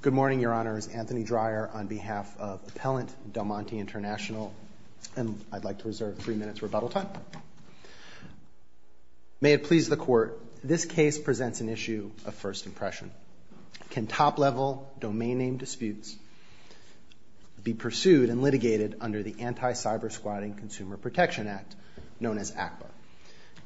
Good morning, Your Honors. Anthony Dreyer on behalf of Appellant Del Monte International, and I'd like to reserve three minutes rebuttal time. May it please the Court, this case presents an issue of first impression. Can top-level domain name disputes be pursued and litigated under the Anti-Cyber Squatting Consumer Protection Act, known as ACPA?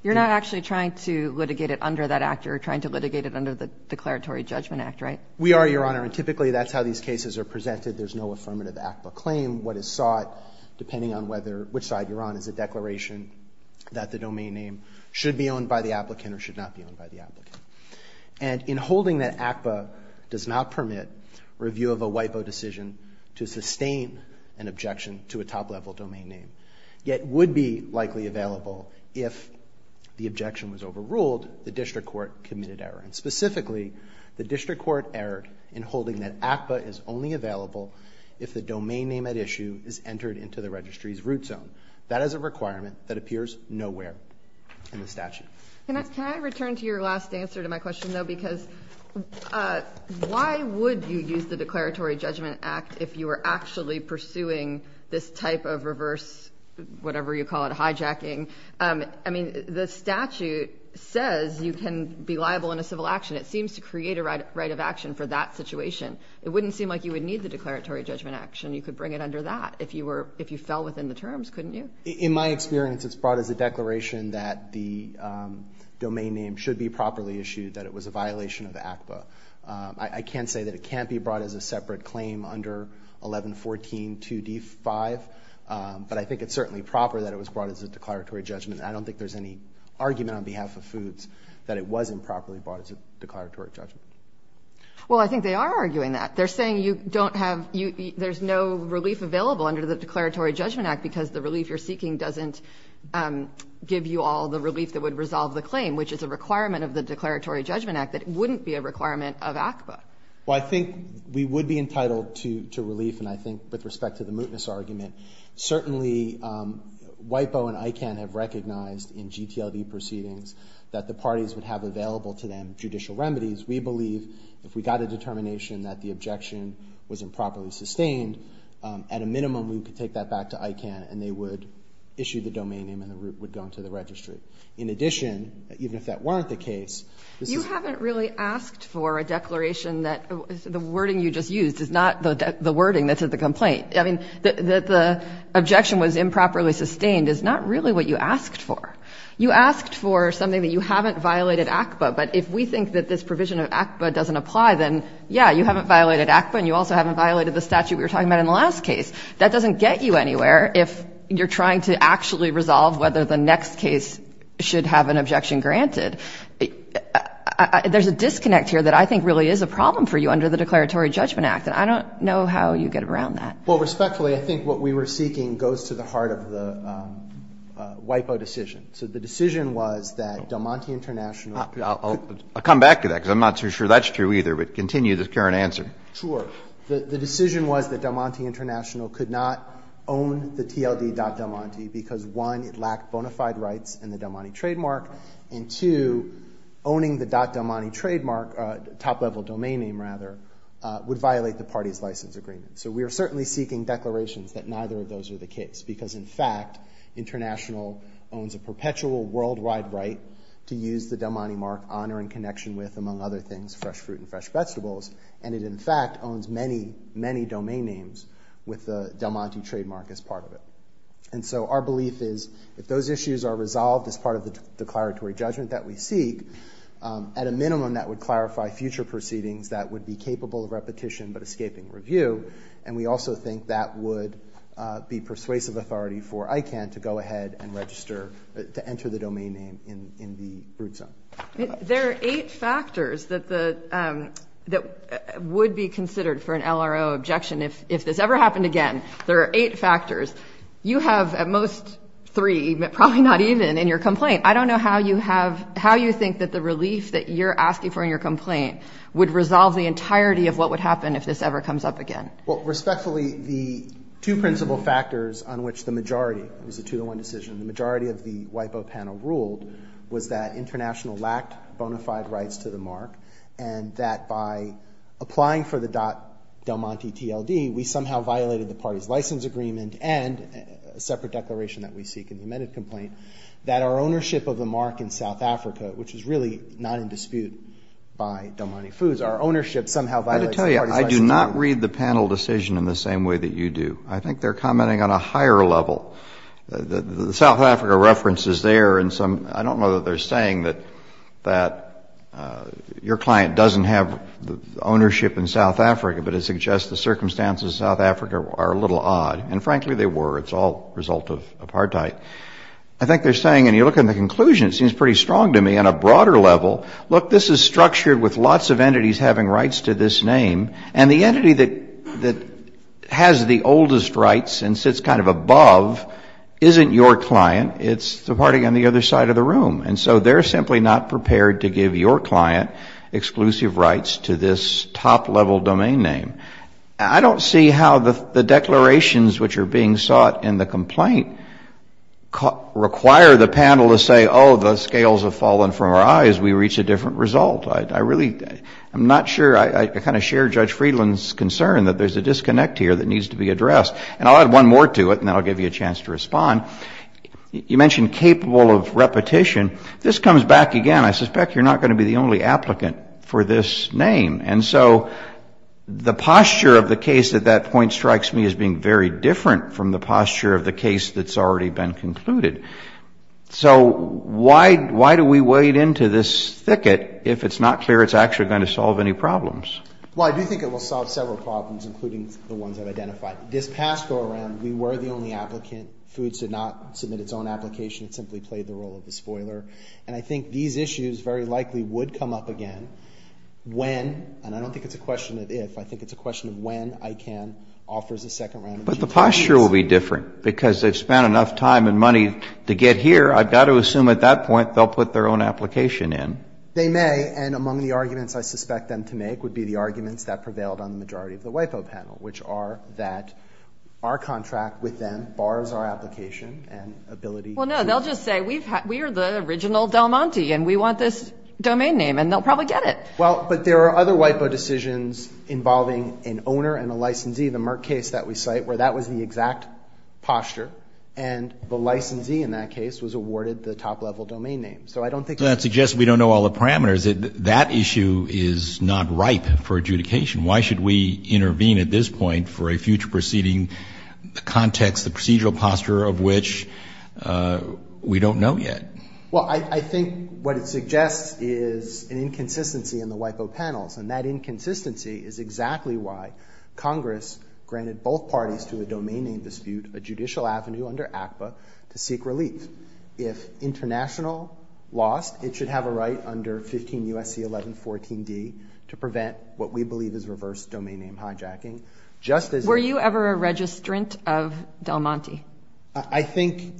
You're not actually trying to litigate it under that act. You're trying to litigate it under the Declaratory Judgment Act, right? We are, Your Honor, and typically that's how these cases are presented. There's no affirmative ACPA claim. What is sought, depending on whether, which side you're on, is a declaration that the domain name should be owned by the applicant or should not be owned by the applicant. And in holding that ACPA does not permit review of a WIPO decision to sustain an objection to a top-level domain name, yet would be likely available if the objection was overruled, the District Court committed error. And specifically, the District Court erred in holding that ACPA is only available if the domain name at issue is entered into the registry's root zone. That is a requirement that appears nowhere in the statute. Can I return to your last answer to my question, though? Because why would you use the Declaratory Judgment Act if you were actually pursuing this type of reverse, whatever you call it, hijacking? I mean, the statute says you can be liable in a civil action. It seems to create a right of action for that situation. It wouldn't seem like you would need the Declaratory Judgment Act, and you could bring it under that if you were, if you fell within the terms, couldn't you? In my experience, it's brought as a declaration that the domain name should be properly issued, that it was a violation of ACPA. I can't say that it can't be brought as a separate claim under 1114 2D5, but I think it's certainly proper that it was brought as a argument on behalf of foods, that it wasn't properly brought as a declaratory judgment. Well, I think they are arguing that. They're saying you don't have, there's no relief available under the Declaratory Judgment Act because the relief you're seeking doesn't give you all the relief that would resolve the claim, which is a requirement of the Declaratory Judgment Act, that it wouldn't be a requirement of ACPA. Well, I think we would be entitled to relief, and I think with respect to the mootness argument, certainly WIPO and ICANN have recognized in GTLD proceedings that the parties would have available to them judicial remedies. We believe if we got a determination that the objection was improperly sustained, at a minimum, we could take that back to ICANN and they would issue the domain name and the moot would go into the registry. In addition, even if that weren't the case, this is... You haven't really asked for a declaration that, the wording you just used is not the wording that's in the complaint. I mean, that the objection was improperly sustained is not really what you asked for. You asked for something that you haven't violated ACPA, but if we think that this provision of ACPA doesn't apply, then yeah, you haven't violated ACPA and you also haven't violated the statute we were talking about in the last case. That doesn't get you anywhere if you're trying to actually resolve whether the next case should have an objection granted. There's a disconnect here that I think really is a problem for you under the Declaratory Judgment Act, and I don't know how you get around that. Well, respectfully, I think what we were seeking goes to the heart of the WIPO decision. So the decision was that Del Monte International... I'll come back to that, because I'm not too sure that's true either, but continue the current answer. Sure. The decision was that Del Monte International could not own the TLD.DelMonte because one, it lacked bona fide rights in the Del Monte trademark, and two, owning the .DelMonte trademark, top level domain name rather, would violate the party's license agreement. So we are certainly seeking declarations that neither of those are the case, because in fact, International owns a perpetual worldwide right to use the Del Monte mark honor and connection with, among other things, fresh fruit and fresh vegetables. And it, in fact, owns many, many domain names with the Del Monte trademark as part of it. And so our belief is if those issues are resolved as part of the declaratory judgment that we seek, at a minimum, that would clarify future proceedings that would be capable of repetition but escaping review. And we also think that would be persuasive authority for ICANN to go ahead and register, to enter the domain name in the root zone. There are eight factors that would be considered for an LRO objection. If this ever happened again, there are eight factors. You have, at most, three, probably not even, in your complaint. I don't know how you think that the relief that you're asking for in your complaint would resolve the entirety of what would happen if this ever comes up again? Well, respectfully, the two principal factors on which the majority, it was a two to one decision, the majority of the WIPO panel ruled was that International lacked bona fide rights to the mark and that by applying for the Del Monte TLD, we somehow violated the party's license agreement and a separate declaration that we seek in the amended complaint, that our ownership of the mark in South Africa, which is really not in dispute by Del Monte TLD, would not read the panel decision in the same way that you do. I think they're commenting on a higher level. The South Africa references there and some, I don't know that they're saying that your client doesn't have ownership in South Africa, but it suggests the circumstances in South Africa are a little odd. And frankly, they were. It's all a result of apartheid. I think they're saying, and you look at the conclusion, it seems pretty strong to me on a broader level, look, this is structured with lots of entities having rights to this name and the entity that has the oldest rights and sits kind of above isn't your client, it's the party on the other side of the room. And so they're simply not prepared to give your client exclusive rights to this top level domain name. I don't see how the declarations which are being sought in the complaint require the panel to say, oh, the scales have been lifted. I'm not sure, I kind of share Judge Friedland's concern that there's a disconnect here that needs to be addressed. And I'll add one more to it, and then I'll give you a chance to respond. You mentioned capable of repetition. This comes back again, I suspect you're not going to be the only applicant for this name. And so the posture of the case at that point strikes me as being very different from the posture of the case that's already been concluded. So why do we wade into this thicket if it's not clear it's actually going to solve any problems? Well, I do think it will solve several problems, including the ones I've identified. This past go-around, we were the only applicant. Food did not submit its own application. It simply played the role of a spoiler. And I think these issues very likely would come up again when, and I don't think it's a question of if, I think it's a question of when ICANN offers a second round of GTAs. But the posture will be different, because they've spent enough time and money to get here. I've got to assume at that point they'll put their own application in. They may. And among the arguments I suspect them to make would be the arguments that prevailed on the majority of the WIPO panel, which are that our contract with them bars our application and ability to Well, no, they'll just say, we are the original Del Monte, and we want this domain name, and they'll probably get it. Well, but there are other WIPO decisions involving an owner and a licensee, the Merck case that we cite, where that was the exact posture. And the licensee in that case was awarded the top-level domain name. So I don't think So that suggests we don't know all the parameters. That issue is not ripe for adjudication. Why should we intervene at this point for a future proceeding, the context, the procedural posture of which we don't know yet? Well, I think what it suggests is an inconsistency in the WIPO panels. And that inconsistency is exactly why Congress granted both parties to a domain name dispute a judicial avenue under ACPA to seek relief. If international lost, it should have a right under 15 U.S.C. 1114d to prevent what we believe is reverse domain name hijacking. Just as Were you ever a registrant of Del Monte? I think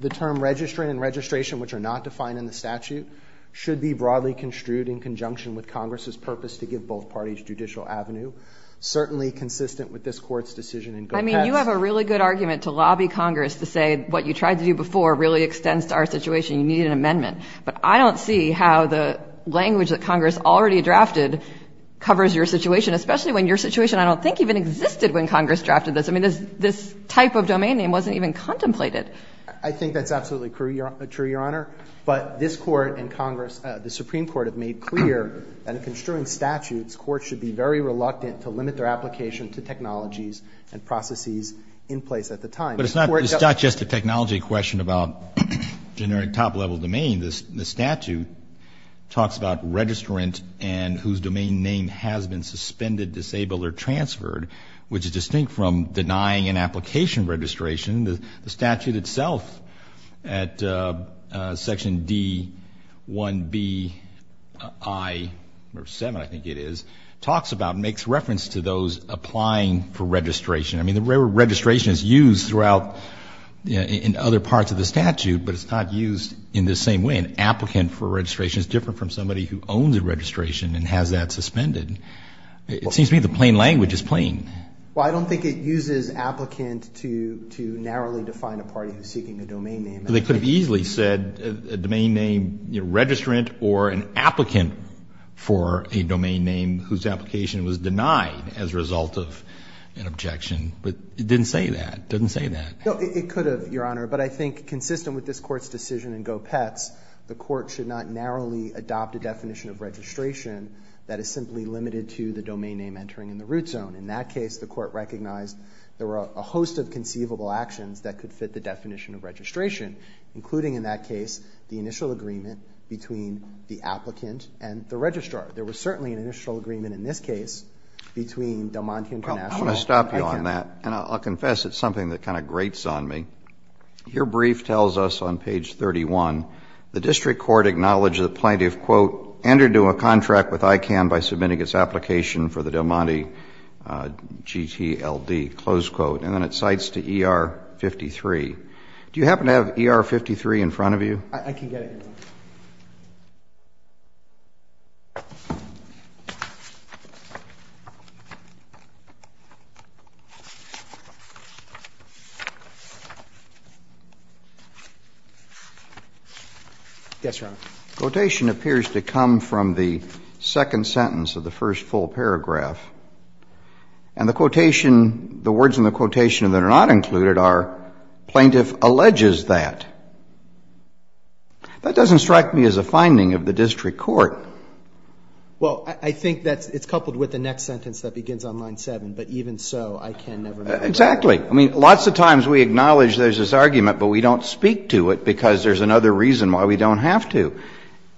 the term registrant and registration, which are not defined in the statute, should be broadly construed in conjunction with Congress's purpose to give both parties judicial avenue, certainly consistent with this Court's decision in Gopetz I mean, you have a really good argument to lobby Congress to say what you tried to do before really extends to our situation. You need an amendment. But I don't see how the language that Congress already drafted covers your situation, especially when your situation I don't think even existed when Congress drafted this. I mean, this type of domain name wasn't even contemplated. I think that's absolutely true, Your Honor. But this Court and Congress, the Supreme Court, have made clear that in construing statutes, courts should be very reluctant to limit their application to technologies and processes in place at the time. But it's not just a technology question about generic top-level domain. The statute talks about registrant and whose domain name has been suspended, disabled, or transferred, which is distinct from denying an application registration. The statute itself, at section D-1B-I-7, I think it is, talks about and makes reference to those applying for registration. I mean, the word registration is used throughout in other parts of the statute, but it's not used in the same way. An applicant for registration is different from somebody who owns a registration and has that suspended. It seems to me the plain language is plain. Well, I don't think it uses applicant to narrowly define a party who's seeking a domain name. They could have easily said a domain name, you know, registrant, or an applicant for a domain name whose application was denied as a result of an objection, but it didn't say that. It doesn't say that. No, it could have, Your Honor, but I think consistent with this Court's decision in Gopetz, the Court should not narrowly adopt a definition of registration that is simply limited to the domain name entering in the root zone. In that case, the Court recognized there were a host of conceivable actions that could fit the definition of registration, including in that case the initial agreement between the applicant and the registrar. There was certainly an initial agreement in this case between Del Monte International and ICANN. Well, I want to stop you on that, and I'll confess it's something that kind of grates on me. Your brief tells us on page 31, the district court acknowledged the plaintiff, quote, entered into a contract with ICANN by submitting its application for the Del Monte GTLD, close quote, and then it cites to ER 53. Do you happen to have ER 53 in front of you? I can get it. Yes, Your Honor. Quotation appears to come from the second sentence of the first full paragraph. And the quotation, the words in the quotation that are not included are, plaintiff alleges that. That doesn't strike me as a finding of the district court. Well, I think that's — it's coupled with the next sentence that begins on line 7. But even so, ICANN never mentioned it. Exactly. I mean, lots of times we acknowledge there's this argument, but we don't speak to it because there's another reason why we don't have to.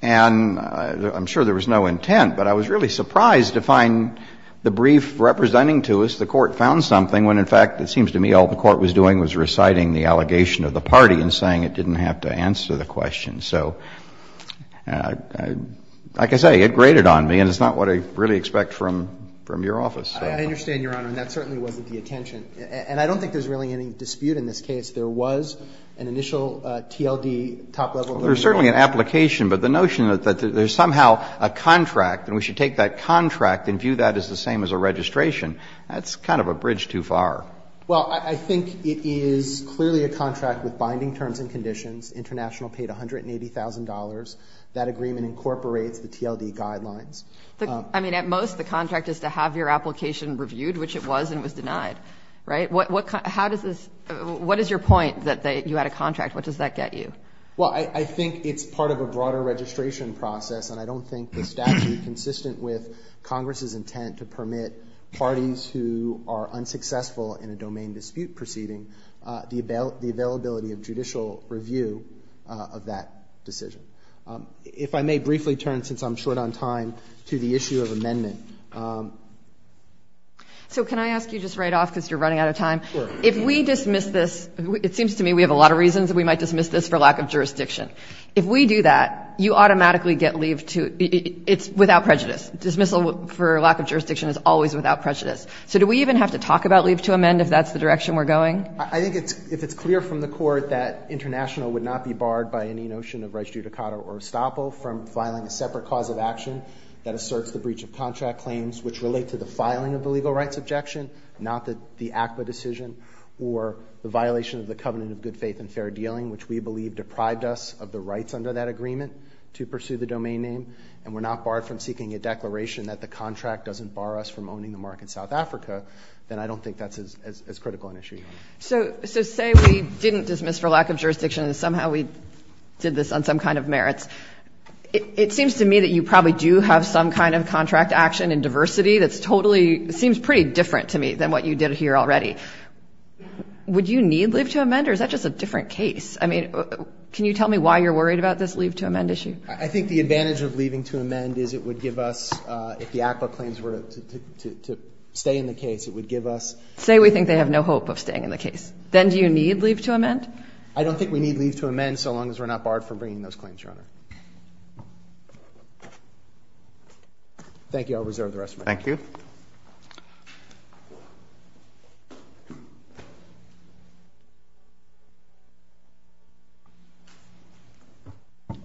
And I'm sure there was no intent, but I was really surprised to find the brief representing to us the Court found something when, in fact, it seems to me all the Court was doing was reciting the allegation of the party and saying it didn't have to answer the question. So, like I say, it graded on me, and it's not what I really expect from your office. I understand, Your Honor, and that certainly wasn't the intention. And I don't think there's really any dispute in this case. There was an initial TLD, top-level duty lawyer. Well, there's certainly an application, but the notion that there's somehow a contract and we should take that contract and view that as the same as a registration, that's kind of a bridge too far. Well, I think it is clearly a contract with binding terms and conditions. International paid $180,000. That agreement incorporates the TLD guidelines. I mean, at most, the contract is to have your application reviewed, which it was and was denied, right? What is your point that you had a contract? What does that get you? Well, I think it's part of a broader registration process, and I don't think the statute, consistent with Congress's intent to permit parties who are unsuccessful in a domain dispute proceeding the availability of judicial review of that decision. If I may briefly turn, since I'm short on time, to the issue of amendment. So can I ask you just right off, because you're running out of time? Sure. If we dismiss this, it seems to me we have a lot of reasons that we might dismiss this for lack of jurisdiction. If we do that, you automatically get leave to — it's without prejudice. Dismissal for lack of jurisdiction is always without prejudice. So do we even have to talk about leave to amend if that's the direction we're going? I think if it's clear from the court that international would not be barred by any notion of res judicata or estoppel from filing a separate cause of action that asserts the breach of contract claims, which relate to the filing of the legal rights objection, not the ACWA decision, or the violation of the covenant of good faith and fair dealing, which we believe deprived us of the rights under that agreement to pursue the domain name, and we're not barred from seeking a declaration that the contract doesn't bar us from owning the market in South Africa, then I don't think that's as critical an issue. So say we didn't dismiss for lack of jurisdiction and somehow we did this on some kind of merits. It seems to me that you probably do have some kind of contract action in diversity that's totally — seems pretty different to me than what you did here already. Would you need leave to amend or is that just a different case? I mean, can you tell me why you're worried about this leave to amend issue? I think the advantage of leaving to amend is it would give us, if the ACWA claims were to stay in the case, it would give us — Say we think they have no hope of staying in the case. Then do you need leave to amend? I don't think we need leave to amend so long as we're not barred from bringing those claims, Your Honor. Thank you. I'll reserve the rest of my time. Thank you. Thank you.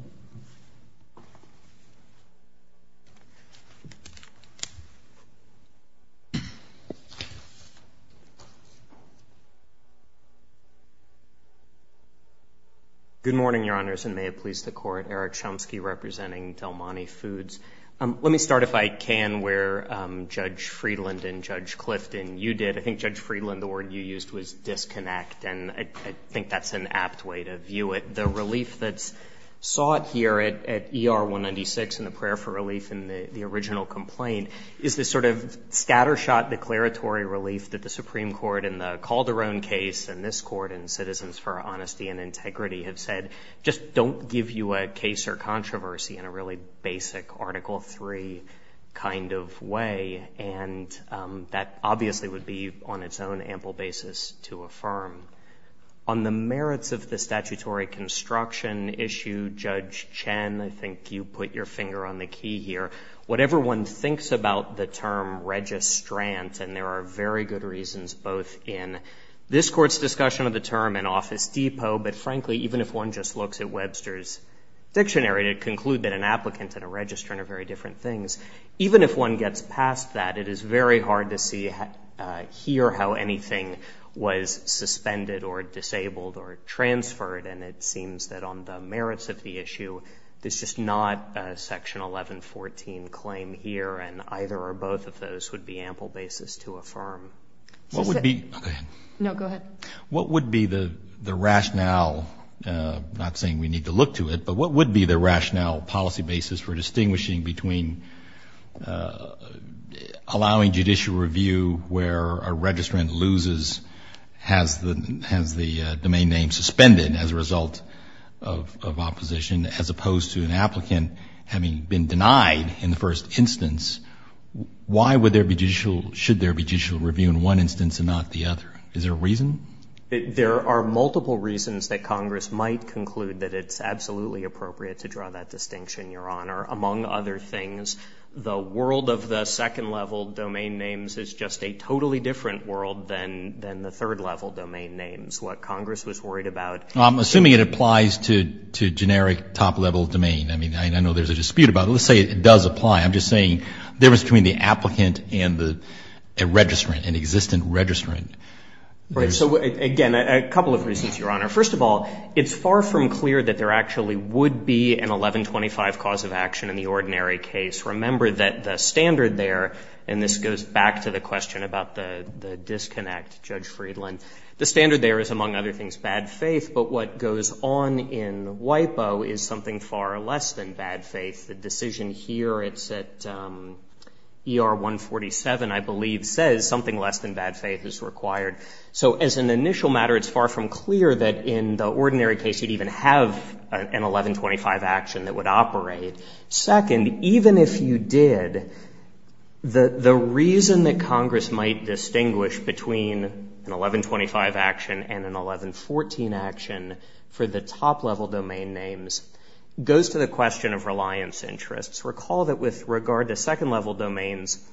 Good morning, Your Honors, and may it please the Court. Eric Chomsky representing Del Monte Foods. Let me start, if I can, where Judge Friedland and Judge Clifton, you did. I think, Judge Friedland, the word you used was disconnect, and I think that's an apt way to view it. The relief that's sought here at ER 196 in the prayer for relief in the original complaint is this sort of scattershot declaratory relief that the Supreme Court in the Calderon case and this Court in Citizens for Honesty and Integrity have said, just don't give you a case or controversy in a really basic Article III kind of way, and that obviously would be on its own ample basis to affirm. On the merits of the statutory construction issue, Judge Chen, I think you put your finger on the key here. Whatever one thinks about the term registrant, and there are very good reasons, both in this Court's discussion of the term and Office Depot, but frankly, even if one just looks at Webster's dictionary to conclude that an applicant and a registrant are very different things, even if one gets past that, it is very hard to see here how anything was suspended or disabled or transferred, and it seems that on the merits of the issue, there's just not a Section 1114 claim here, and either or both of those would be ample basis to affirm. No, go ahead. What would be the rationale, not saying we need to look to it, but what would be the rationale, policy basis for distinguishing between allowing judicial review where a registrant loses, has the domain name suspended as a result of opposition, as opposed to an applicant having been denied in the first instance? Why should there be judicial review in one instance and not the other? Is there a reason? There are multiple reasons that Congress might conclude that it's absolutely appropriate to draw that distinction, Your Honor. Among other things, the world of the second-level domain names is just a totally different world than the third-level domain names. What Congress was worried about... I'm assuming it applies to generic top-level domain. I mean, I know there's a dispute about it. Let's say it does apply. I'm just saying the difference between the applicant and a registrant, an existent registrant... Right, so again, a couple of reasons, Your Honor. First of all, it's far from clear that there actually would be an 1125 cause of action in the ordinary case. Remember that the standard there... And this goes back to the question about the disconnect, Judge Friedland. The standard there is, among other things, bad faith, but what goes on in WIPO is something far less than bad faith. The decision here, it's at ER 147, I believe, says something less than bad faith is required. So as an initial matter, it's far from clear that in the ordinary case you'd even have an 1125 action that would operate. Second, even if you did, the reason that Congress might distinguish between an 1125 action and an 1114 action for the top-level domain names goes to the question of reliance interests. Recall that with regard to second-level domains,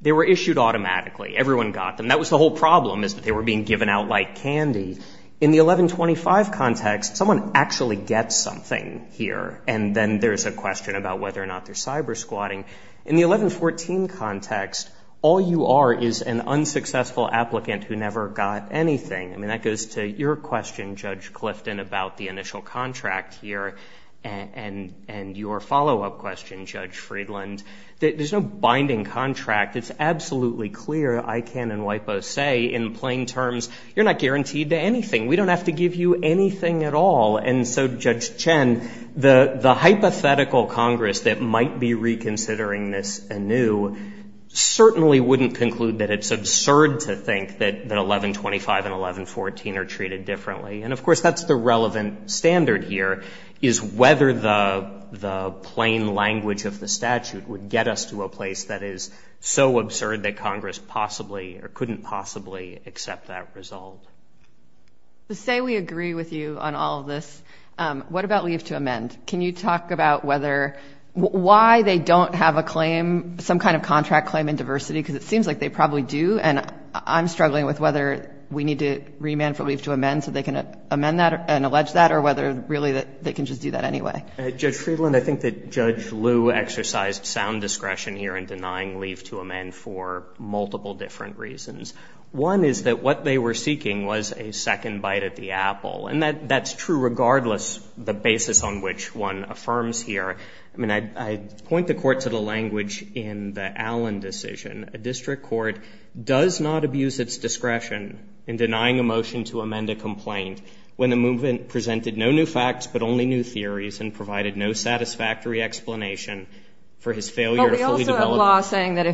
they were issued automatically. Everyone got them. That was the whole problem, is that they were being given out like candy. In the 1125 context, someone actually gets something here, and then there's a question about whether or not they're cyber-squatting. In the 1114 context, all you are is an unsuccessful applicant who never got anything. I mean, that goes to your question, Judge Clifton, about the initial contract here, and your follow-up question, Judge Friedland. There's no binding contract. It's absolutely clear. I can and WIPO say in plain terms, you're not guaranteed to anything. We don't have to give you anything at all. And so, Judge Chen, the hypothetical Congress that might be reconsidering this anew certainly wouldn't conclude that it's absurd to think that 1125 and 1114 are treated differently. And, of course, that's the relevant standard here, is whether the plain language of the statute would get us to a place that is so absurd that Congress possibly, or couldn't possibly, accept that result. Say we agree with you on all of this. What about leave to amend? Can you talk about whether, why they don't have a claim, some kind of contract claim in diversity? Because it seems like they probably do, and I'm struggling with whether we need to remand for leave to amend so they can amend that and allege that, or whether, really, they can just do that anyway. Judge Friedland, I think that Judge Liu exercised sound discretion here in denying leave to amend for multiple different reasons. One is that what they were seeking was a second bite at the apple. And that's true regardless of the basis on which one affirms here. I point the Court to the language in the Allen decision. A district court does not abuse its discretion in denying a motion to amend a complaint when the movement presented no new facts but only new theories and provided no satisfactory explanation for his failure to fully develop it. Well, they also have law saying that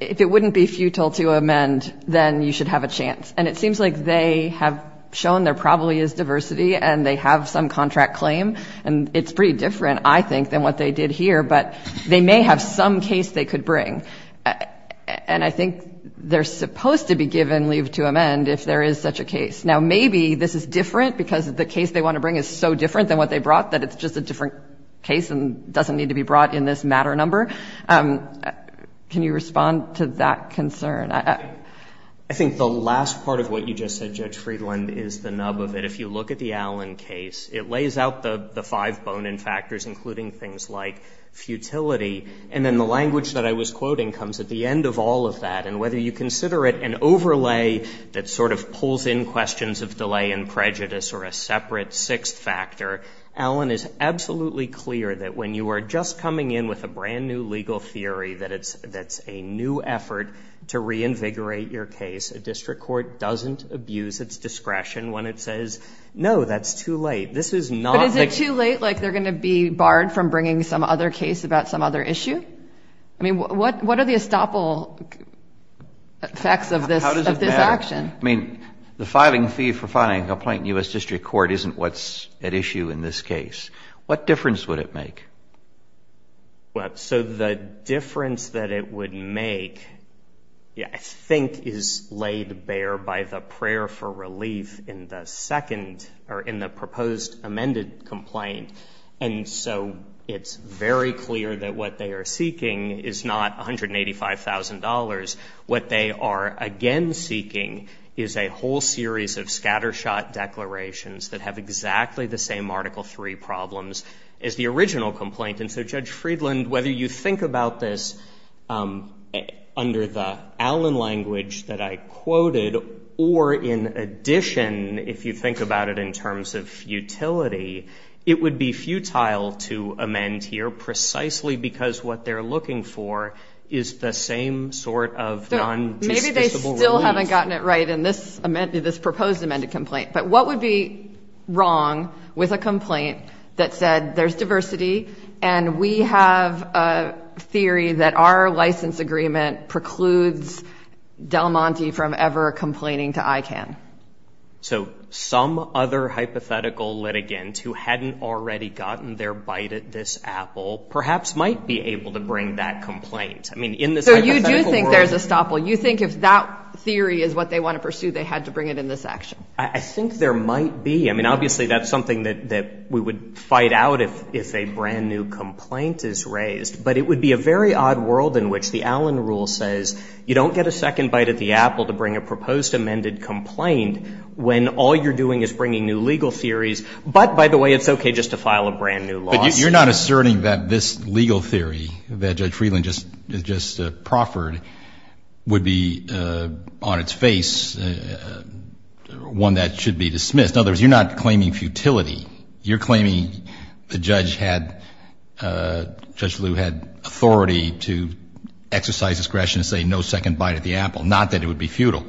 if it wouldn't be futile to amend, then you should have a chance. And it seems like they have shown there probably is diversity, and they have some contract claim. And it's pretty different, I think, than what they did here. But they may have some case they could bring. And I think they're supposed to be given leave to amend if there is such a case. Now, maybe this is different because the case they want to bring is so different than what they brought that it's just a different case and doesn't need to be brought in this matter number. Can you respond to that concern? I think the last part of what you just said, Judge Friedland, is the nub of it. If you look at the Allen case, it lays out the five bone-in factors, including things like futility. And then the language that I was quoting comes at the end of all of that. And whether you consider it an overlay that sort of pulls in questions of delay and prejudice or a separate sixth factor, Allen is absolutely clear that when you are just coming in with a brand-new legal theory that it's a new effort to reinvigorate your case, a district court doesn't abuse its discretion when it says, no, that's too late. But is it too late, like they're going to be barred from bringing some other case about some other issue? I mean, what are the estoppel effects of this action? I mean, the filing fee for filing a complaint in U.S. district court isn't what's at issue in this case. What difference would it make? Well, so the difference that it would make, I think, is laid bare by the prayer for relief in the second, or in the proposed amended complaint. And so it's very clear that what they are seeking is not $185,000. What they are again seeking is a whole series of scattershot declarations that have exactly the same Article III problems as the original complaint. And so, Judge Friedland, whether you think about this under the Allen language that I quoted, or in addition, if you think about it in terms of futility, it would be futile to amend here precisely because what they're looking for is the same sort of non-disposable relief. Maybe they still haven't gotten it right in this proposed amended complaint. But what would be wrong with a complaint that said there's diversity and we have a theory that our license agreement precludes Del Monte from ever complaining to ICANN? So some other hypothetical litigant who hadn't already gotten their bite at this apple perhaps might be able to bring that complaint. So you do think there's a stopple? You think if that theory is what they want to pursue, they had to bring it in this action? I think there might be. I mean, obviously, that's something that we would fight out if a brand-new complaint is raised. But it would be a very odd world in which the Allen rule says you don't get a second bite at the apple to bring a proposed amended complaint when all you're doing is bringing new legal theories. But, by the way, it's okay just to file a brand-new lawsuit. But you're not asserting that this legal theory that Judge Friedland just proffered would be, on its face, one that should be dismissed. In other words, you're not claiming futility. You're claiming the judge had authority to exercise discretion to say no second bite at the apple, not that it would be futile.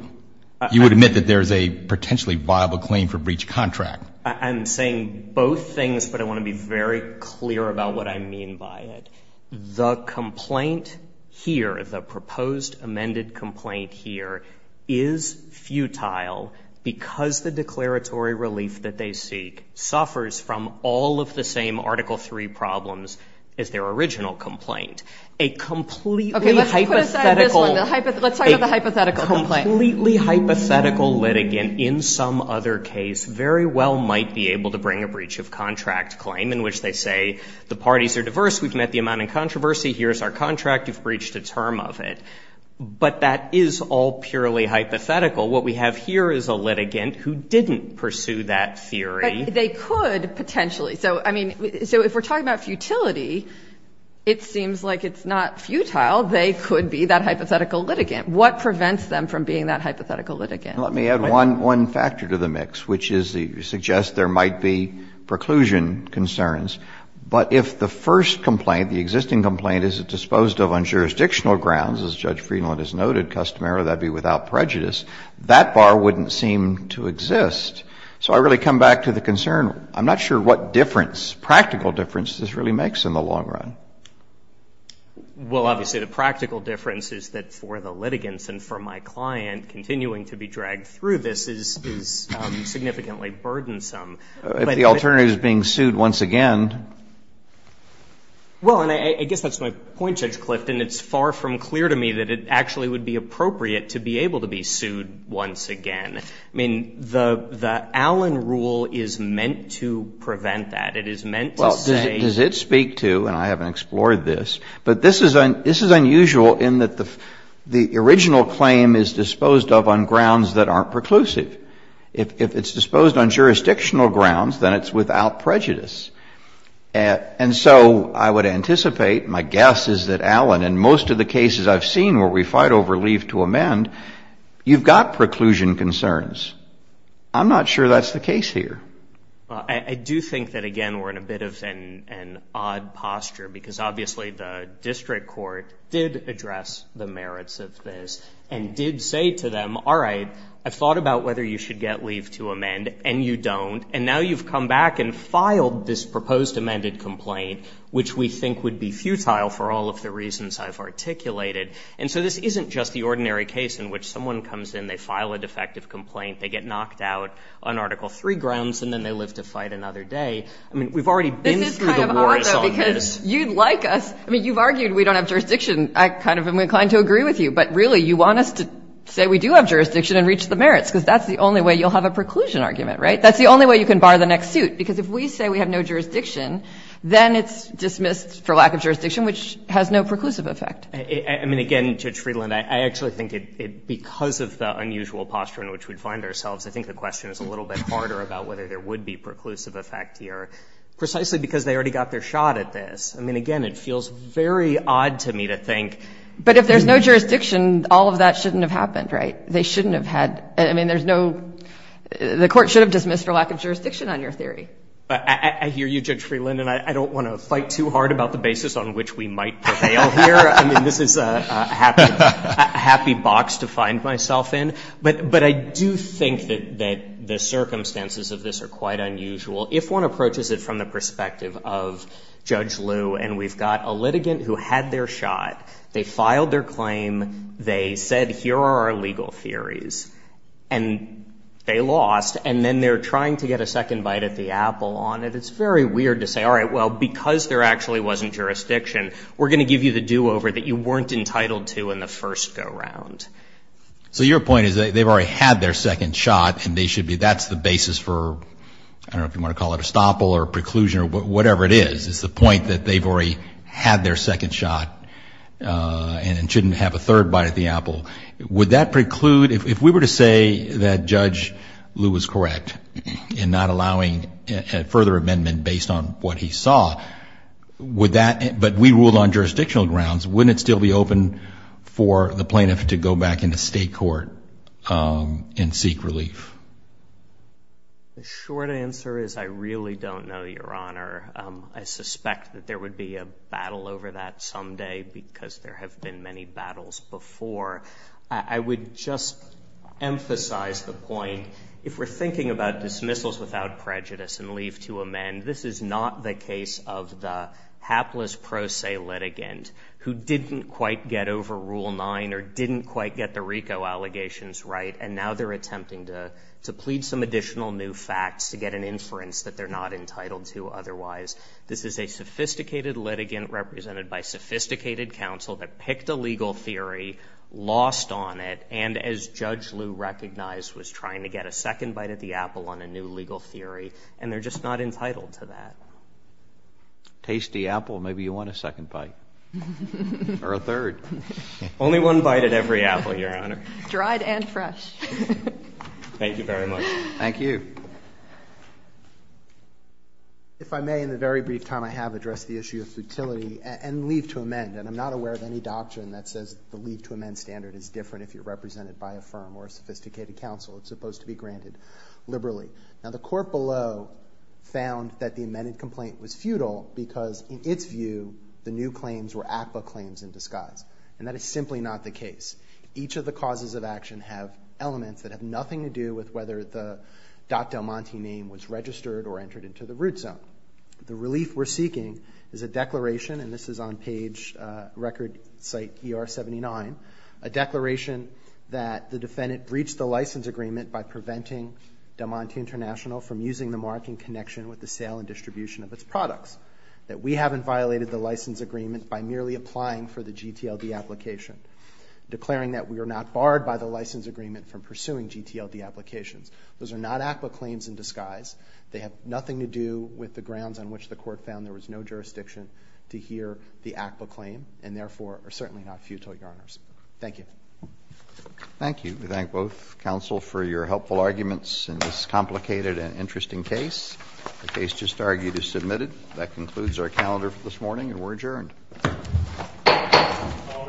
You would admit that there's a potentially viable claim for breach of contract. I'm saying both things, but I want to be very clear about what I mean by it. The complaint here, the proposed amended complaint here, is futile because the declaratory relief that they seek suffers from all of the same Article III problems as their original complaint. A completely hypothetical... Okay, let's put aside this one. Let's talk about the hypothetical complaint. A completely hypothetical litigant in some other case very well might be able to bring a breach of contract claim in which they say the parties are diverse, we've met the amount in controversy, here's our contract, you've breached a term of it. But that is all purely hypothetical. What we have here is a litigant who didn't pursue that theory. But they could potentially. So if we're talking about futility, it seems like it's not futile. They could be that hypothetical litigant. What prevents them from being that hypothetical litigant? Let me add one factor to the mix, which is you suggest there might be preclusion concerns. But if the first complaint, the existing complaint, is disposed of on jurisdictional grounds, as Judge Friedland has noted customarily, that would be without prejudice, that bar wouldn't seem to exist. So I really come back to the concern, I'm not sure what difference, practical difference, this really makes in the long run. Well, obviously the practical difference is that for the litigants and for my client, continuing to be dragged through this is significantly burdensome. If the alternative is being sued once again... Well, and I guess that's my point, Judge Clift, and it's far from clear to me that it actually would be appropriate to be able to be sued once again. I mean, the Allen rule is meant to prevent that. It is meant to say... Well, does it speak to, and I haven't explored this, but this is unusual in that the original claim is disposed of on grounds that aren't preclusive. If it's disposed on jurisdictional grounds, then it's without prejudice. And so I would anticipate, my guess is that, Allen, in most of the cases I've seen where we fight over leave to amend, you've got preclusion concerns. I'm not sure that's the case here. Well, I do think that, again, we're in a bit of an odd posture because obviously the district court did address the merits of this and did say to them, all right, I've thought about whether you should get leave to amend, and you don't, and now you've come back and filed this proposed amended complaint, which we think would be futile for all of the reasons I've articulated. And so this isn't just the ordinary case in which someone comes in, they file a defective complaint, they get knocked out on Article III grounds, and then they live to fight another day. I mean, we've already been through the wars on this. This is kind of odd, though, because you'd like us... I mean, you've argued we don't have jurisdiction. I kind of am inclined to agree with you, but really you want us to say we do have jurisdiction and reach the merits, because that's the only way you'll have a preclusion argument, right? That's the only way you can bar the next suit, because if we say we have no jurisdiction, then it's dismissed for lack of jurisdiction, which has no preclusive effect. I mean, again, Judge Friedland, I actually think because of the unusual posture in which we find ourselves, I think the question is a little bit harder about whether there would be preclusive effect here, precisely because they already got their shot at this. I mean, again, it feels very odd to me to think... All of that shouldn't have happened, right? They shouldn't have had... I mean, there's no... The court should have dismissed for lack of jurisdiction on your theory. I hear you, Judge Friedland, and I don't want to fight too hard about the basis on which we might prevail here. I mean, this is a happy box to find myself in. But I do think that the circumstances of this are quite unusual. If one approaches it from the perspective of Judge Liu, and we've got a litigant who had their shot, they filed their claim, they said, here are our legal theories, and they lost, and then they're trying to get a second bite at the apple on it. It's very weird to say, all right, well, because there actually wasn't jurisdiction, we're going to give you the do-over that you weren't entitled to in the first go-round. So your point is that they've already had their second shot, and they should be... That's the basis for... I don't know if you want to call it a stopple or a preclusion or whatever it is. It's the point that they've already had their second shot and shouldn't have a third bite at the apple. Would that preclude... If we were to say that Judge Liu was correct in not allowing a further amendment based on what he saw, would that... But we ruled on jurisdictional grounds. Wouldn't it still be open for the plaintiff to go back into state court and seek relief? The short answer is I really don't know, Your Honor. I suspect that there would be a battle over that someday because there have been many battles before. I would just emphasize the point if we're thinking about dismissals without prejudice and leave to amend, this is not the case of the hapless pro se litigant who didn't quite get over Rule 9 or didn't quite get the RICO allegations right, and now they're attempting to plead some additional new facts to get an inference that they're not entitled to otherwise. This is a sophisticated litigant represented by sophisticated counsel that picked a legal theory, lost on it, and as Judge Liu recognized, was trying to get a second bite at the apple on a new legal theory, and they're just not entitled to that. Tasty apple. Maybe you want a second bite. Or a third. Only one bite at every apple, Your Honor. Dried and fresh. Thank you very much. Thank you. If I may, in the very brief time I have, address the issue of futility and leave to amend. And I'm not aware of any doctrine that says the leave to amend standard is different if you're represented by a firm or a sophisticated counsel. It's supposed to be granted liberally. Now the court below found that the amended complaint was futile because in its view, the new claims were ACPA claims in disguise. And that is simply not the case. Each of the causes of action have elements that have nothing to do with whether the Dr. Del Monte name was registered or entered into the root zone. The relief we're seeking is a declaration, and this is on page record site ER 79, a declaration that the defendant breached the license agreement by preventing Del Monte International from using the mark in connection with the sale and distribution of its products. That we haven't violated the license agreement by merely applying for the GTLD application. Declaring that we are not barred by the license agreement from pursuing GTLD applications. Those are not ACPA claims in disguise. They have nothing to do with the grounds on which the court found there was no jurisdiction to hear the ACPA claim, and therefore are certainly not futile, Your Honors. Thank you. Thank you. We thank both counsel for your helpful arguments in this complicated and interesting case. The case just argued is submitted. That concludes our calendar for this morning and we're adjourned. All rise.